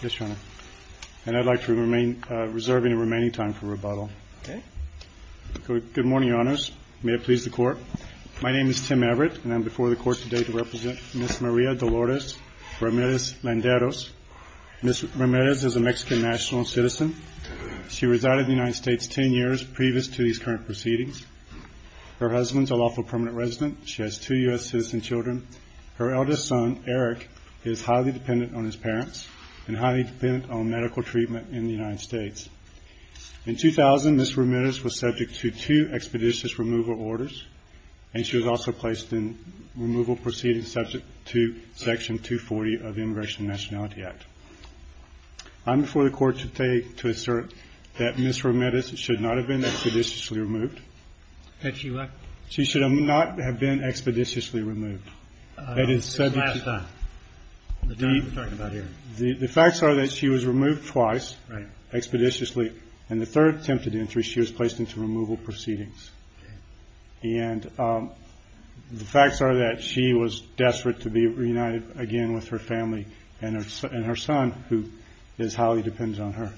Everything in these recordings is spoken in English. Good morning, Your Honors. May it please the Court. My name is Tim Everett and I am before the Court today to represent Ms. Maria Dolores Ramirez-Landeros. Ms. Ramirez is a Mexican national citizen. She resided in the United States ten years previous to these current proceedings. Her husband is a lawful permanent resident. She has two U.S. citizen children. Her eldest son, Eric, is highly dependent on his parents and highly dependent on medical treatment in the United States. In 2000, Ms. Ramirez was subject to two expeditious removal orders and she was also placed in removal proceedings subject to Section 240 of the Immigration and Nationality Act. I am before the Court today to assert that Ms. Ramirez should not have been expeditiously removed. She should not have been expeditiously removed. The facts are that she was removed twice expeditiously and the third attempted entry she was placed into removal proceedings. And the facts are that she was desperate to be reunited again with her family and her son, who is highly dependent on her.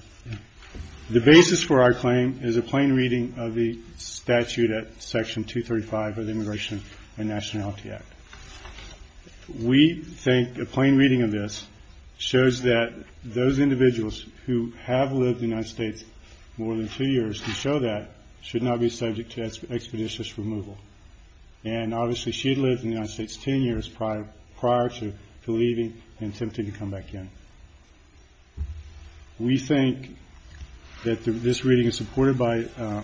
The basis for our claim is a plain reading of the statute at Section 235 of the Immigration and Nationality Act. We think a plain reading of this shows that those individuals who have lived in the United States more than two years who show that should not be subject to expeditious removal. And obviously she had lived in the United States ten years prior to leaving and we think that this reading is supported by,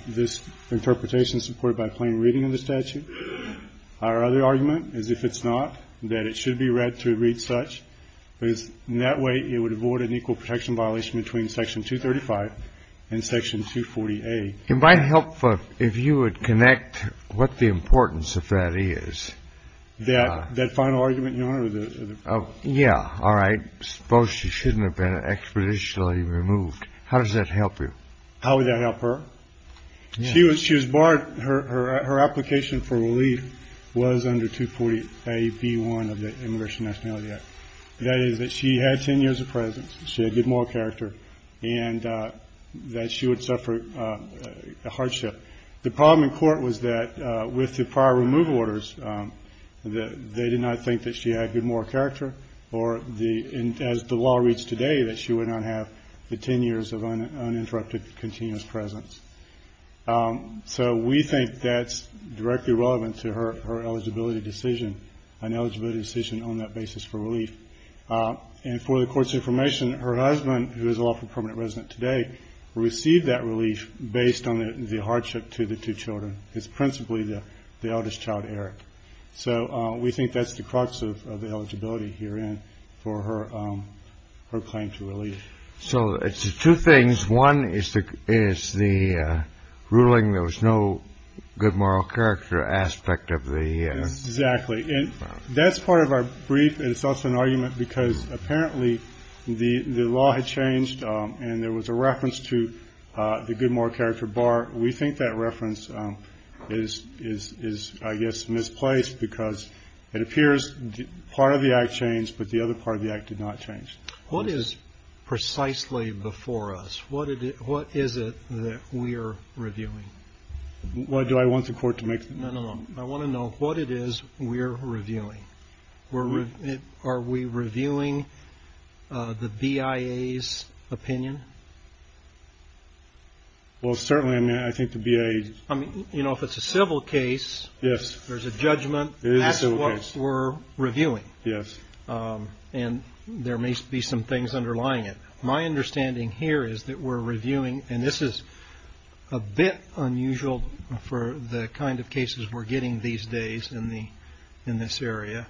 this interpretation is supported by a plain reading of the statute. Our other argument is, if it's not, that it should be read to read such, because in that way it would avoid an equal protection violation between Section 235 and Section 240A. It might help if you would connect what the importance of that is. That final argument, Your Honor, of the ---- Yeah. All right. Suppose she shouldn't have been expeditionally removed. How does that help you? How would that help her? She was barred. Her application for relief was under 240A.B.1 of the Immigration and Nationality Act. That is that she had ten years of presence. She had good moral character and that she would suffer hardship. The problem in court was that with the prior removal orders, they did not think that she had good moral character or the, as the law reads today, that she would not have the ten years of uninterrupted continuous presence. So we think that's directly relevant to her eligibility decision, an eligibility decision on that basis for relief. And for the Court's information, her husband, who is a lawful permanent resident today, received that relief based on the hardship to the two children, principally the eldest child, Eric. So we think that's the crux of the eligibility herein for her claim to relief. So it's two things. One is the ruling there was no good moral character aspect of the ---- Yes, exactly. And that's part of our brief. And it's also an argument because apparently the law had changed and there was a reference to the good moral character bar. We think that reference is, I guess, misplaced because it appears part of the Act changed, but the other part of the Act did not change. What is precisely before us? What is it that we're reviewing? What do I want the Court to make? No, no, no. I want to know what it is we're reviewing. Are we reviewing the BIA's opinion? Well, certainly, I mean, I think the BIA's ---- I mean, you know, if it's a civil case, there's a judgment. That's what we're reviewing. And there may be some things underlying it. My understanding here is that we're reviewing and this is a bit unusual for the kind of cases we're getting these days in this area.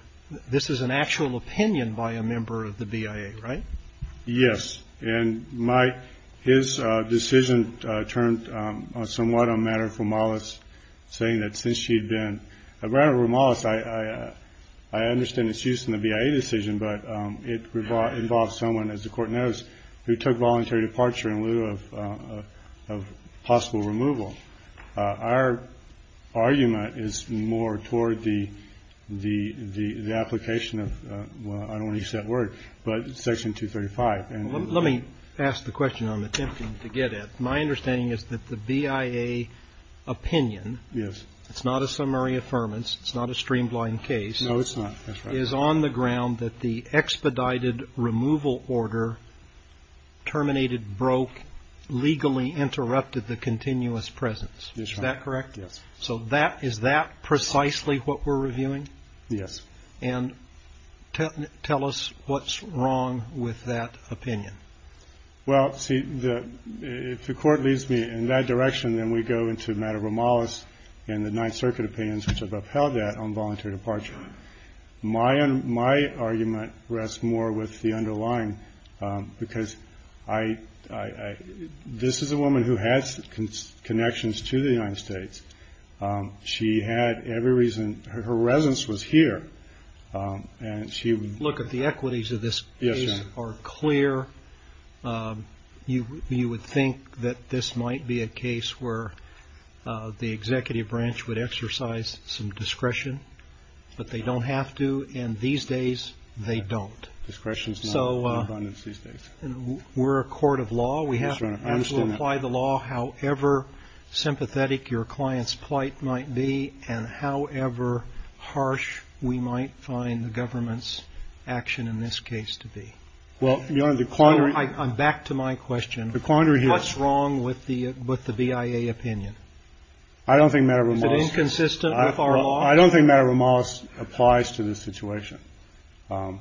This is an actual opinion by a member of the BIA, right? Yes. And his decision turned somewhat on matter for Mollis, saying that since she had been a matter for Mollis, I understand it's used in the BIA decision, but it involves someone, as the Court knows, who took voluntary departure in lieu of possible removal. Our argument is more toward the application of, I don't want to use that word, but Section 235. Let me ask the question I'm attempting to get at. My understanding is that the BIA opinion, it's not a summary affirmance, it's not a streamlined case, is on the ground that the expedited removal order terminated, broke, legally interrupted the continuous presence. Is that correct? Yes. So is that precisely what we're reviewing? Yes. And tell us what's wrong with that opinion. Well, see, if the Court leads me in that direction, then we go into matter for Mollis and the Ninth Circuit opinions which have upheld that on voluntary departure. My argument rests more with the underlying, because this is a woman who has connections to the United States. She had every reason, her residence was here, and she would... Look, if the equities of this case are clear, you would think that this might be a case where the executive branch would exercise some discretion, but they don't have to, and these days they don't. Discretion's not in abundance these days. We're a court of law. We have to apply the law however sympathetic your client's plight might be and however harsh we might find the government's action in this case to be. Well, Your Honor, the quandary... I'm back to my question. The quandary here is... What's wrong with the BIA opinion? I don't think matter for Mollis... Is it inconsistent with our law? I don't think matter for Mollis applies to this situation. And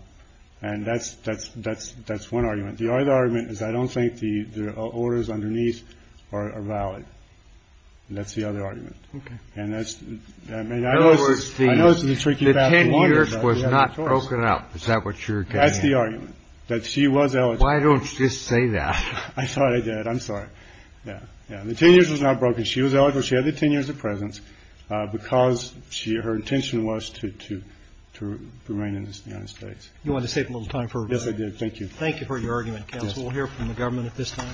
that's one argument. The other argument is I don't think the orders underneath are valid. That's the other argument. And that's... In other words, the 10 years was not broken up. Is that what you're getting at? That's the argument, that she was eligible. Why don't you just say that? I thought I did. I'm sorry. Yeah. The 10 years was not broken. She was eligible. She had the 10 years of presence because her intention was to remain in the United States. You want to save a little time for... Yes, I did. Thank you. Thank you for your argument, counsel. We'll hear from the government at this time.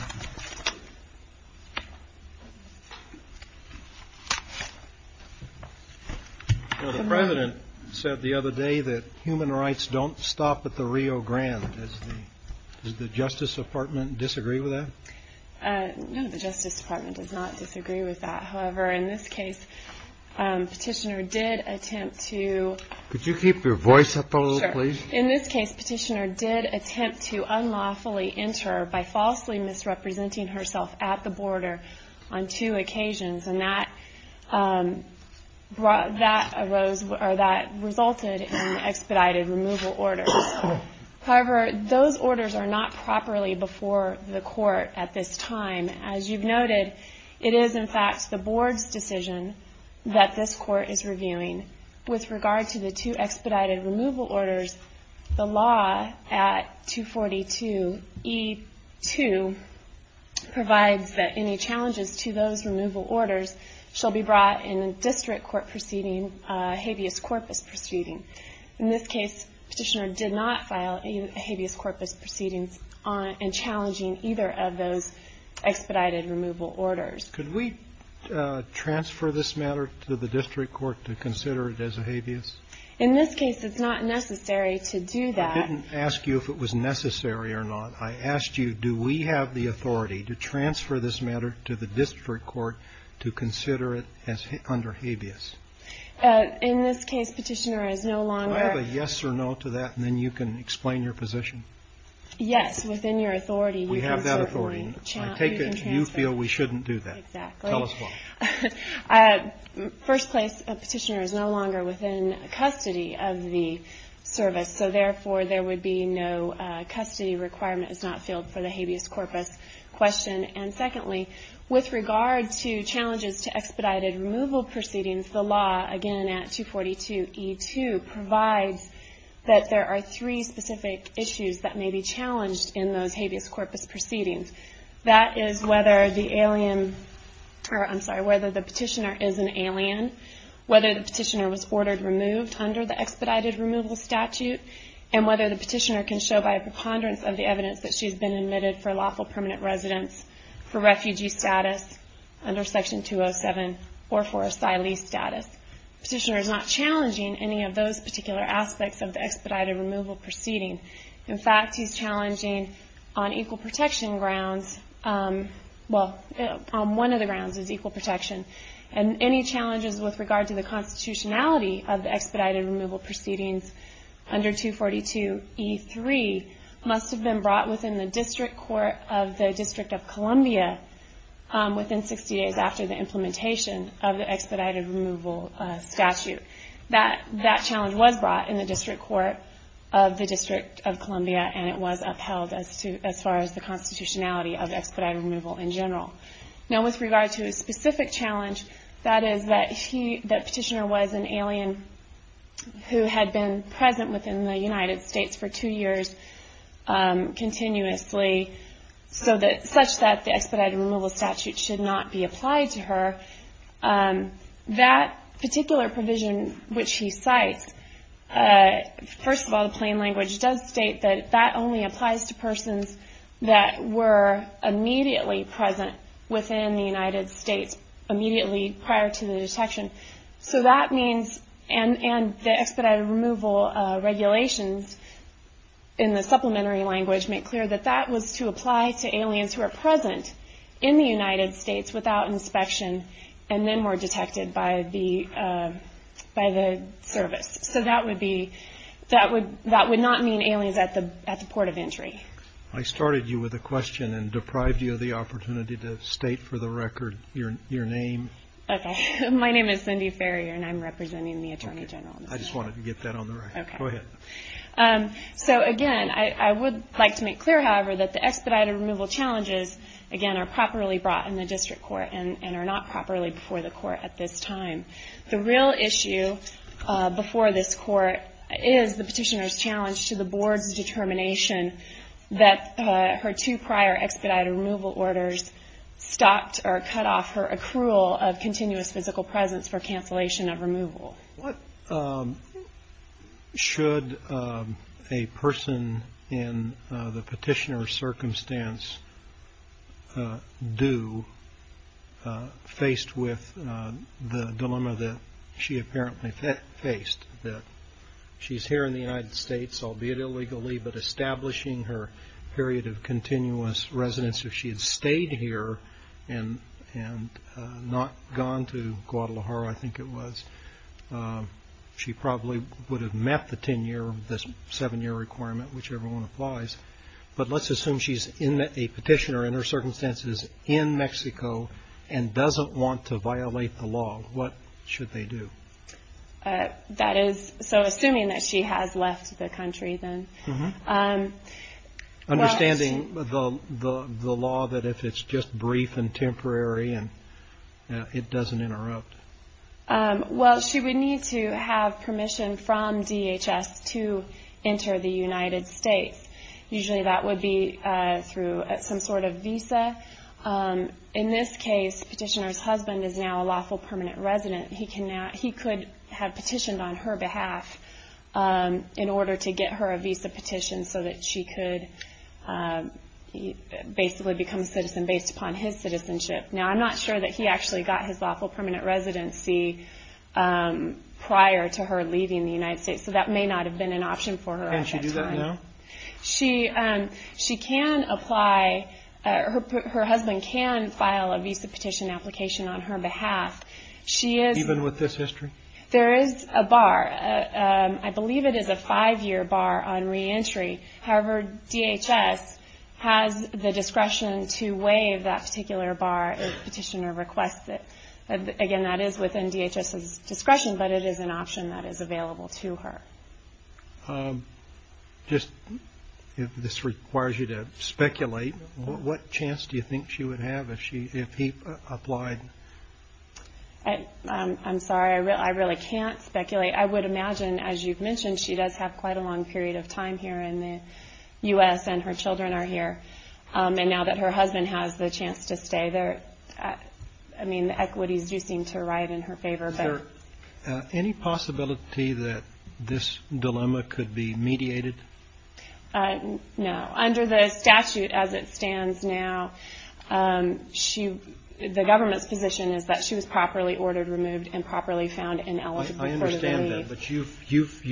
The president said the other day that human rights don't stop at the Rio Grande. Does the Justice Department disagree with that? No, the Justice Department does not disagree with that. However, in this case, petitioner did attempt to... Could you keep your voice up a little, please? In this case, petitioner did attempt to unlawfully enter by falsely misrepresenting herself at the border on two occasions. And that resulted in expedited removal orders. However, those orders are not properly before the court at this time. As you've noted, it is, in fact, the board's decision that this court is reviewing. With regard to the two expedited removal orders, the law at 242E2 provides that any challenges to those removal orders shall be brought in a district court proceeding, habeas corpus proceeding. In this case, petitioner did not file a habeas corpus proceeding in challenging either of those expedited removal orders. Could we transfer this matter to the district court to consider it as a habeas? In this case, it's not necessary to do that. I didn't ask you if it was necessary or not. I asked you, do we have the authority to transfer this matter to the district court to consider it under habeas? In this case, petitioner is no longer. Do I have a yes or no to that, and then you can explain your position? Yes, within your authority. We have that authority. I take it you feel we shouldn't do that. Exactly. Tell us why. First place, a petitioner is no longer within custody of the service. So therefore, there would be no custody requirement is not filled for the habeas corpus question. And secondly, with regard to challenges to expedited removal proceedings, the law, again at 242E2, provides that there are three specific issues that may be challenged in those habeas corpus proceedings. That is whether the petitioner is an alien, whether the petitioner was ordered removed under the expedited removal statute, and whether the petitioner can show by a preponderance of the evidence that she's been admitted for lawful permanent residence, for refugee status under section 207, or for asylee status. Petitioner is not challenging any of those particular aspects of the expedited removal proceeding. In fact, he's challenging on equal protection grounds, well, on one of the grounds is equal protection. And any challenges with regard to the constitutionality of the expedited removal proceedings under 242E3 must have been brought within the district court of the District of Columbia within 60 days after the implementation of the expedited removal statute. That challenge was brought in the district court of the District of Columbia, and it was upheld as far as the constitutionality of expedited removal in general. Now, with regard to a specific challenge, that is that the petitioner was an alien who had been present within the United States for two years continuously, such that the expedited removal statute should not be applied to her. That particular provision which he cites, first of all, the plain language does state that that only applies to persons that were immediately present within the United States immediately prior to the detection. So that means, and the expedited removal regulations in the supplementary language make clear that that was to apply to aliens who are present in the United States without inspection and then were detected by the service. So that would be, that would not mean aliens at the port of entry. I started you with a question and deprived you of the opportunity to state for the record your name. Okay, my name is Cindy Farrier, and I'm representing the Attorney General. I just wanted to get that on the record, go ahead. So again, I would like to make clear, however, that the expedited removal challenges, again, are properly brought in the district court and are not properly before the court at this time. The real issue before this court is the petitioner's challenge to the board's determination that her two prior expedited removal orders stopped or cut off her accrual of continuous physical presence for cancellation of removal. What should a person in the petitioner's circumstance do faced with the dilemma that she apparently faced, that she's here in the United States, albeit illegally, but establishing her period of continuous residence if she had stayed here and not gone to Guadalajara, I think it was. She probably would have met the 10-year, the seven-year requirement, whichever one applies. But let's assume she's a petitioner in her circumstances in Mexico and doesn't want to violate the law. What should they do? That is, so assuming that she has left the country then. Understanding the law that if it's just brief and temporary and it doesn't interrupt. Well, she would need to have permission from DHS to enter the United States. Usually that would be through some sort of visa. In this case, the petitioner's husband is now a lawful permanent resident. He could have petitioned on her behalf in order to get her a visa petition so that she could basically become a citizen based upon his citizenship. Now, I'm not sure that he actually got his lawful permanent residency prior to her leaving the United States. So that may not have been an option for her at that time. Can she do that now? She can apply. Her husband can file a visa petition application on her behalf. Even with this history? There is a bar. I believe it is a five-year bar on reentry. However, DHS has the discretion to waive that particular bar if the petitioner requests it. Again, that is within DHS's discretion, but it is an option that is available to her. If this requires you to speculate, what chance do you think she would have if he applied? I'm sorry. I really can't speculate. I would imagine, as you've mentioned, she does have quite a long period of time here in the U.S. and her children are here. Now that her husband has the chance to stay there, the equities do seem to ride in her favor. Is there any possibility that this dilemma could be mediated? No. Under the statute as it stands now, the government's position is that she was properly ordered, removed, and properly found and eligible for the leave. I understand that, but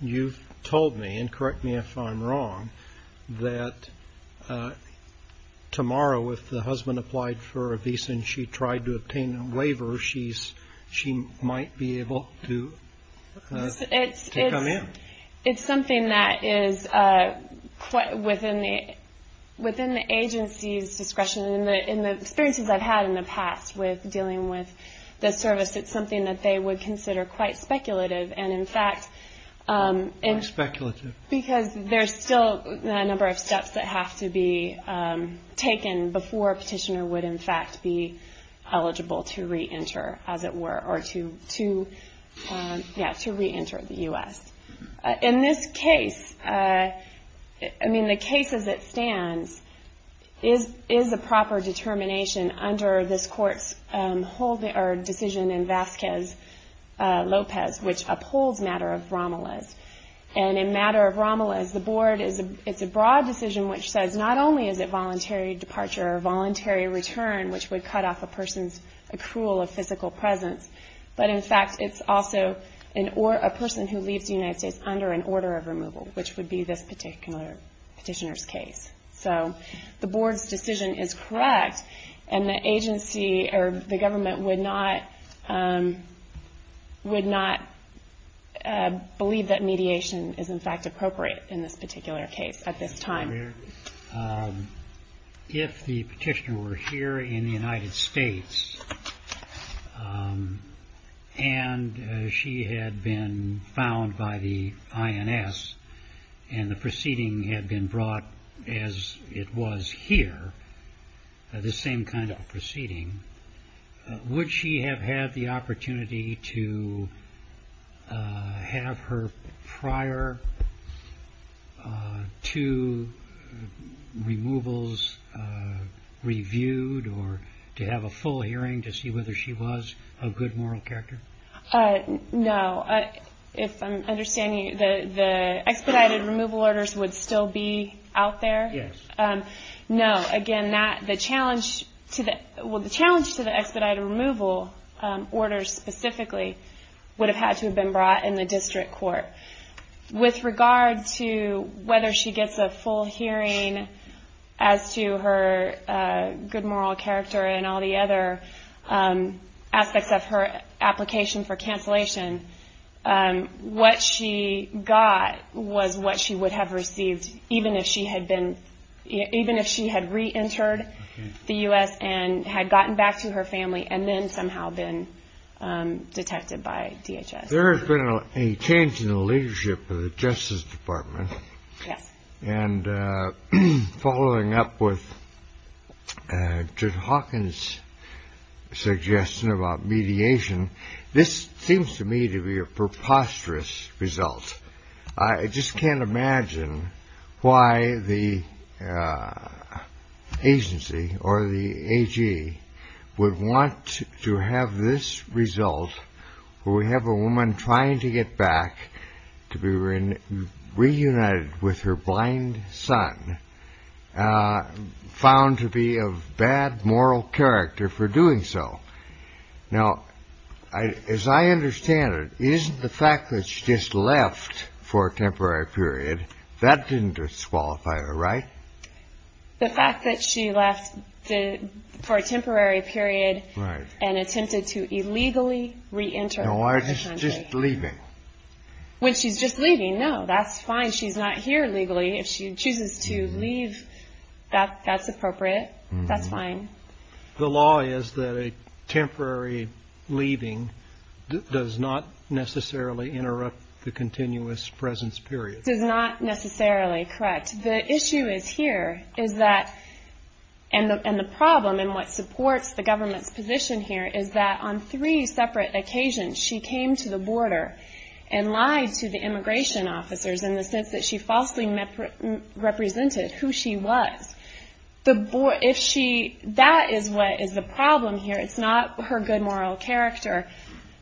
you've told me, and correct me if I'm wrong, that tomorrow if the husband applied for a visa and she tried to obtain a waiver, she might be able to come in. It's something that is within the agency's discretion. In the experiences I've had in the past with dealing with the service, it's something that they would consider quite speculative, because there's still a number of steps that have to be taken before a petitioner would in fact be eligible to re-enter the U.S. In this case, I mean the case as it stands, is a proper determination under this court's decision in Vasquez-Lopez, which upholds matter of Romeles. And in matter of Romeles, the board, it's a broad decision, which says not only is it voluntary departure or voluntary return, which would cut off a person's accrual of physical presence, but in fact it's also a person who leaves the United States under an order of removal, which would be this particular petitioner's case. So the board's decision is correct, and the government would not believe that mediation is in fact appropriate in this particular case at this time. If the petitioner were here in the United States, and she had been found by the INS, and the proceeding had been brought as it was here, the same kind of proceeding, would she have had the opportunity to have her prior two removals reviewed, or to have a full hearing to see whether she was a good moral character? No. If I'm understanding, the expedited removal orders would still be out there? Yes. No. Again, the challenge to the expedited removal orders specifically would have had to have been brought in the district court. With regard to whether she gets a full hearing as to her good moral character and all the other aspects of her application for cancellation, what she got was what she would have received even if she had re-entered the U.S. and had gotten back to her family and then somehow been detected by DHS. There has been a change in the leadership of the Justice Department. Yes. And following up with Judge Hawkins' suggestion about mediation, this seems to me to be a preposterous result. I just can't imagine why the agency or the AG would want to have this result where we have a woman trying to get back to be reunited with her blind son found to be of bad moral character for doing so. Now, as I understand it, isn't the fact that she just left for a temporary period, that didn't disqualify her, right? The fact that she left for a temporary period and attempted to illegally re-enter the country. No, just leaving. When she's just leaving, no, that's fine. She's not here legally. If she chooses to leave, that's appropriate. That's fine. The law is that a temporary leaving does not necessarily interrupt the continuous presence period. It's not necessarily correct. The issue is here is that, and the problem and what supports the government's position here, is that on three separate occasions, she came to the border and lied to the immigration officers in the sense that she falsely represented who she was. That is what is the problem here. It's not her good moral character,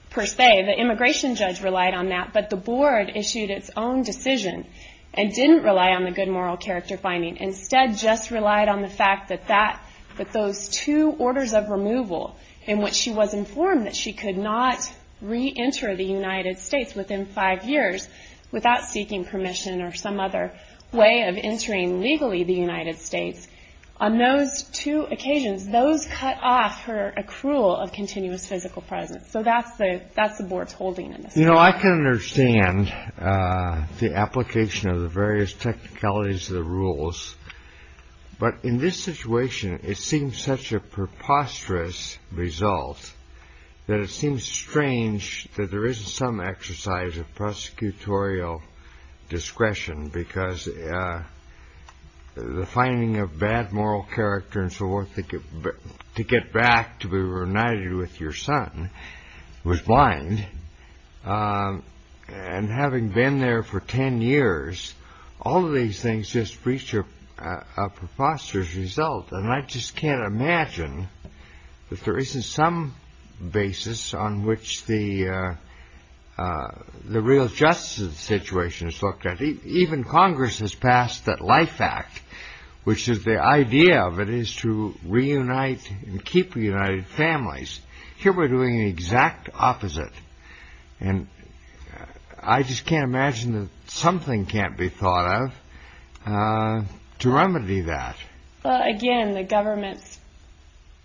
per se. The immigration judge relied on that, but the board issued its own decision and didn't rely on the good moral character finding. Instead, just relied on the fact that those two orders of removal in which she was informed that she could not re-enter the United States within five years without seeking permission or some other way of entering legally the United States, on those two occasions, those cut off her accrual of continuous physical presence. So that's the board's holding in this case. You know, I can understand the application of the various technicalities of the rules, but in this situation, it seems such a preposterous result that it seems strange that there isn't some exercise of prosecutorial discretion because the finding of bad moral character and so forth to get back to be reunited with your son was blind. And having been there for ten years, all of these things just reach a preposterous result. And I just can't imagine that there isn't some basis on which the real justice of the situation is looked at. Even Congress has passed that Life Act, which is the idea of it is to reunite and keep united families. Here we're doing the exact opposite. And I just can't imagine that something can't be thought of to remedy that. Again, the government's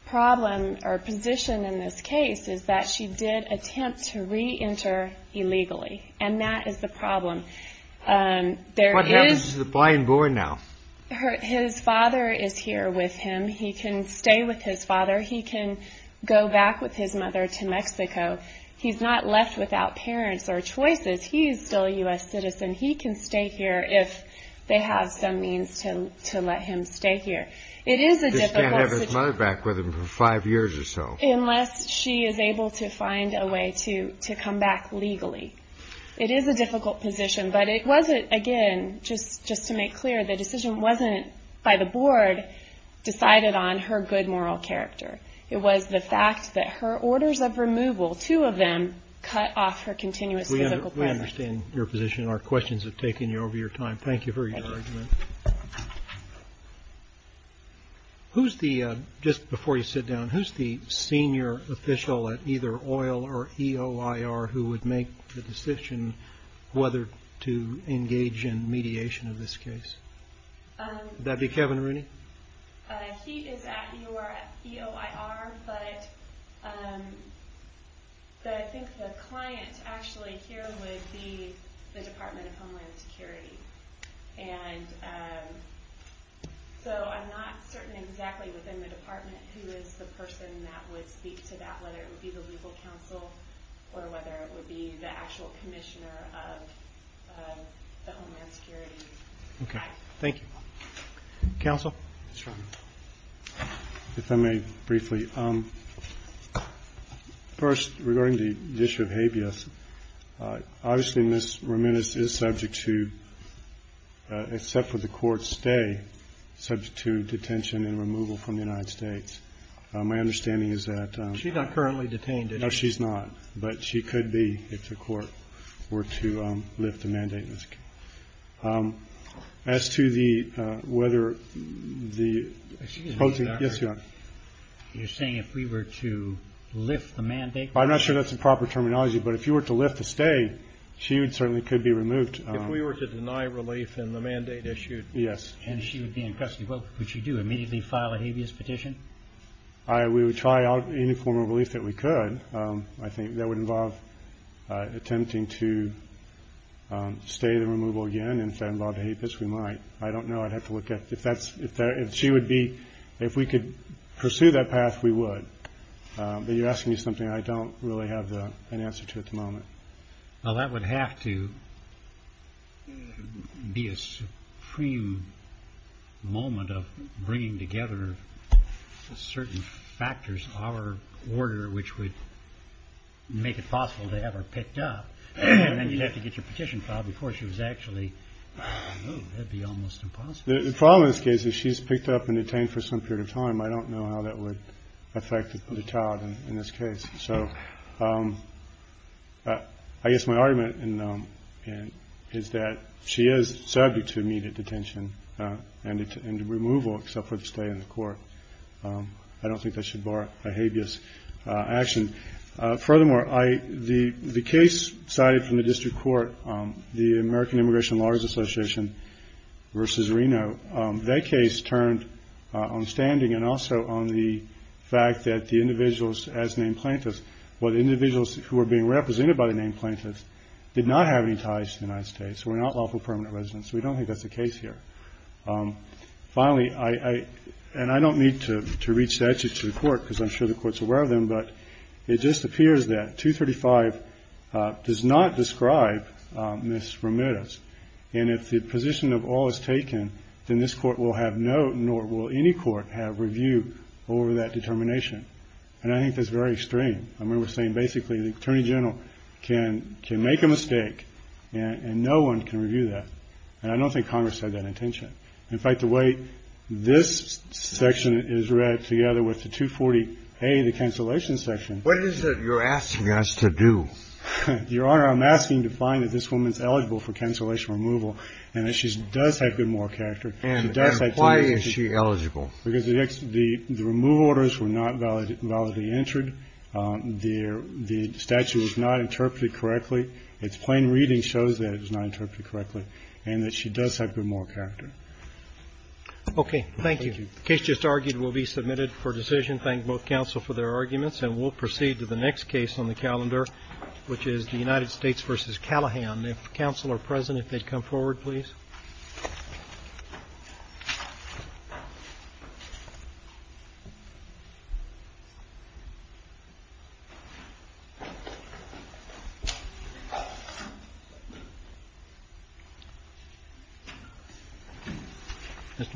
problem or position in this case is that she did attempt to reenter illegally. And that is the problem. What happens to the blind boy now? His father is here with him. He can stay with his father. He can go back with his mother to Mexico. He's not left without parents or choices. He's still a U.S. citizen. He can stay here if they have some means to let him stay here. It is a difficult situation. He just can't have his mother back with him for five years or so. Unless she is able to find a way to come back legally. It is a difficult position. But it wasn't, again, just to make clear, the decision wasn't by the board decided on her good moral character. It was the fact that her orders of removal, two of them, cut off her continuous physical presence. We understand your position. Our questions have taken you over your time. Thank you for your argument. Just before you sit down, who's the senior official at either OIL or EOIR who would make the decision whether to engage in mediation of this case? Would that be Kevin Rooney? He is at EOIR. But I think the client actually here would be the Department of Homeland Security. And so I'm not certain exactly within the department who is the person that would speak to that, whether it would be the legal counsel or whether it would be the actual commissioner of the Homeland Security. Okay, thank you. Counsel? Yes, Your Honor. If I may briefly. First, regarding the issue of habeas, obviously Ms. Ramirez is subject to, except for the court's stay, subject to detention and removal from the United States. My understanding is that... She's not currently detained, is she? No, she's not. But she could be if the court were to lift the mandate. As to whether the... Excuse me, Doctor. Yes, Your Honor. You're saying if we were to lift the mandate? I'm not sure that's the proper terminology, but if you were to lift the stay, she certainly could be removed. If we were to deny relief in the mandate issued and she would be in custody, would she do? Immediately file a habeas petition? We would try out any form of relief that we could. I think that would involve attempting to stay the removal again. And if that involved a habeas, we might. I don't know. I'd have to look at... If she would be... If we could pursue that path, we would. But you're asking me something I don't really have an answer to at the moment. Well, that would have to be a supreme moment of bringing together certain factors in our order which would make it possible to have her picked up. And then you'd have to get your petition filed before she was actually removed. That'd be almost impossible. The problem in this case is she's picked up and detained for some period of time. I don't know how that would affect the child in this case. I guess my argument is that she is subject to immediate detention and removal except for the stay in the court. I don't think that should bar a habeas action. Furthermore, the case cited from the district court the American Immigration Lawyers Association versus Reno that case turned on standing and also on the fact that the individuals as named plaintiffs or the individuals who were being represented by the named plaintiffs did not have any ties to the United States were not lawful permanent residents. We don't think that's the case here. Finally, and I don't need to reach that to the court because I'm sure the court's aware of them but it just appears that 235 does not describe Ms. Ramirez and if the position of all is taken then this court will have no nor will any court have review over that determination. And I think that's very extreme. I mean we're saying basically the Attorney General can make a mistake and no one can review that. And I don't think Congress had that intention. In fact, the way this section is read together with the 240A, the cancellation section What is it you're asking us to do? Your Honor, I'm asking to find that this woman's eligible for cancellation removal and that she does have good moral character And why is she eligible? Because the remove orders were not valid and validly entered. The statute was not interpreted correctly. It's plain reading shows that it was not interpreted correctly and that she does have good moral character. Okay, thank you. The case just argued will be submitted for decision. Thank both counsel for their arguments and we'll proceed to the next case on the calendar which is the United States v. Callahan. If counsel are present, if they'd come forward, please. Mr. Lackland?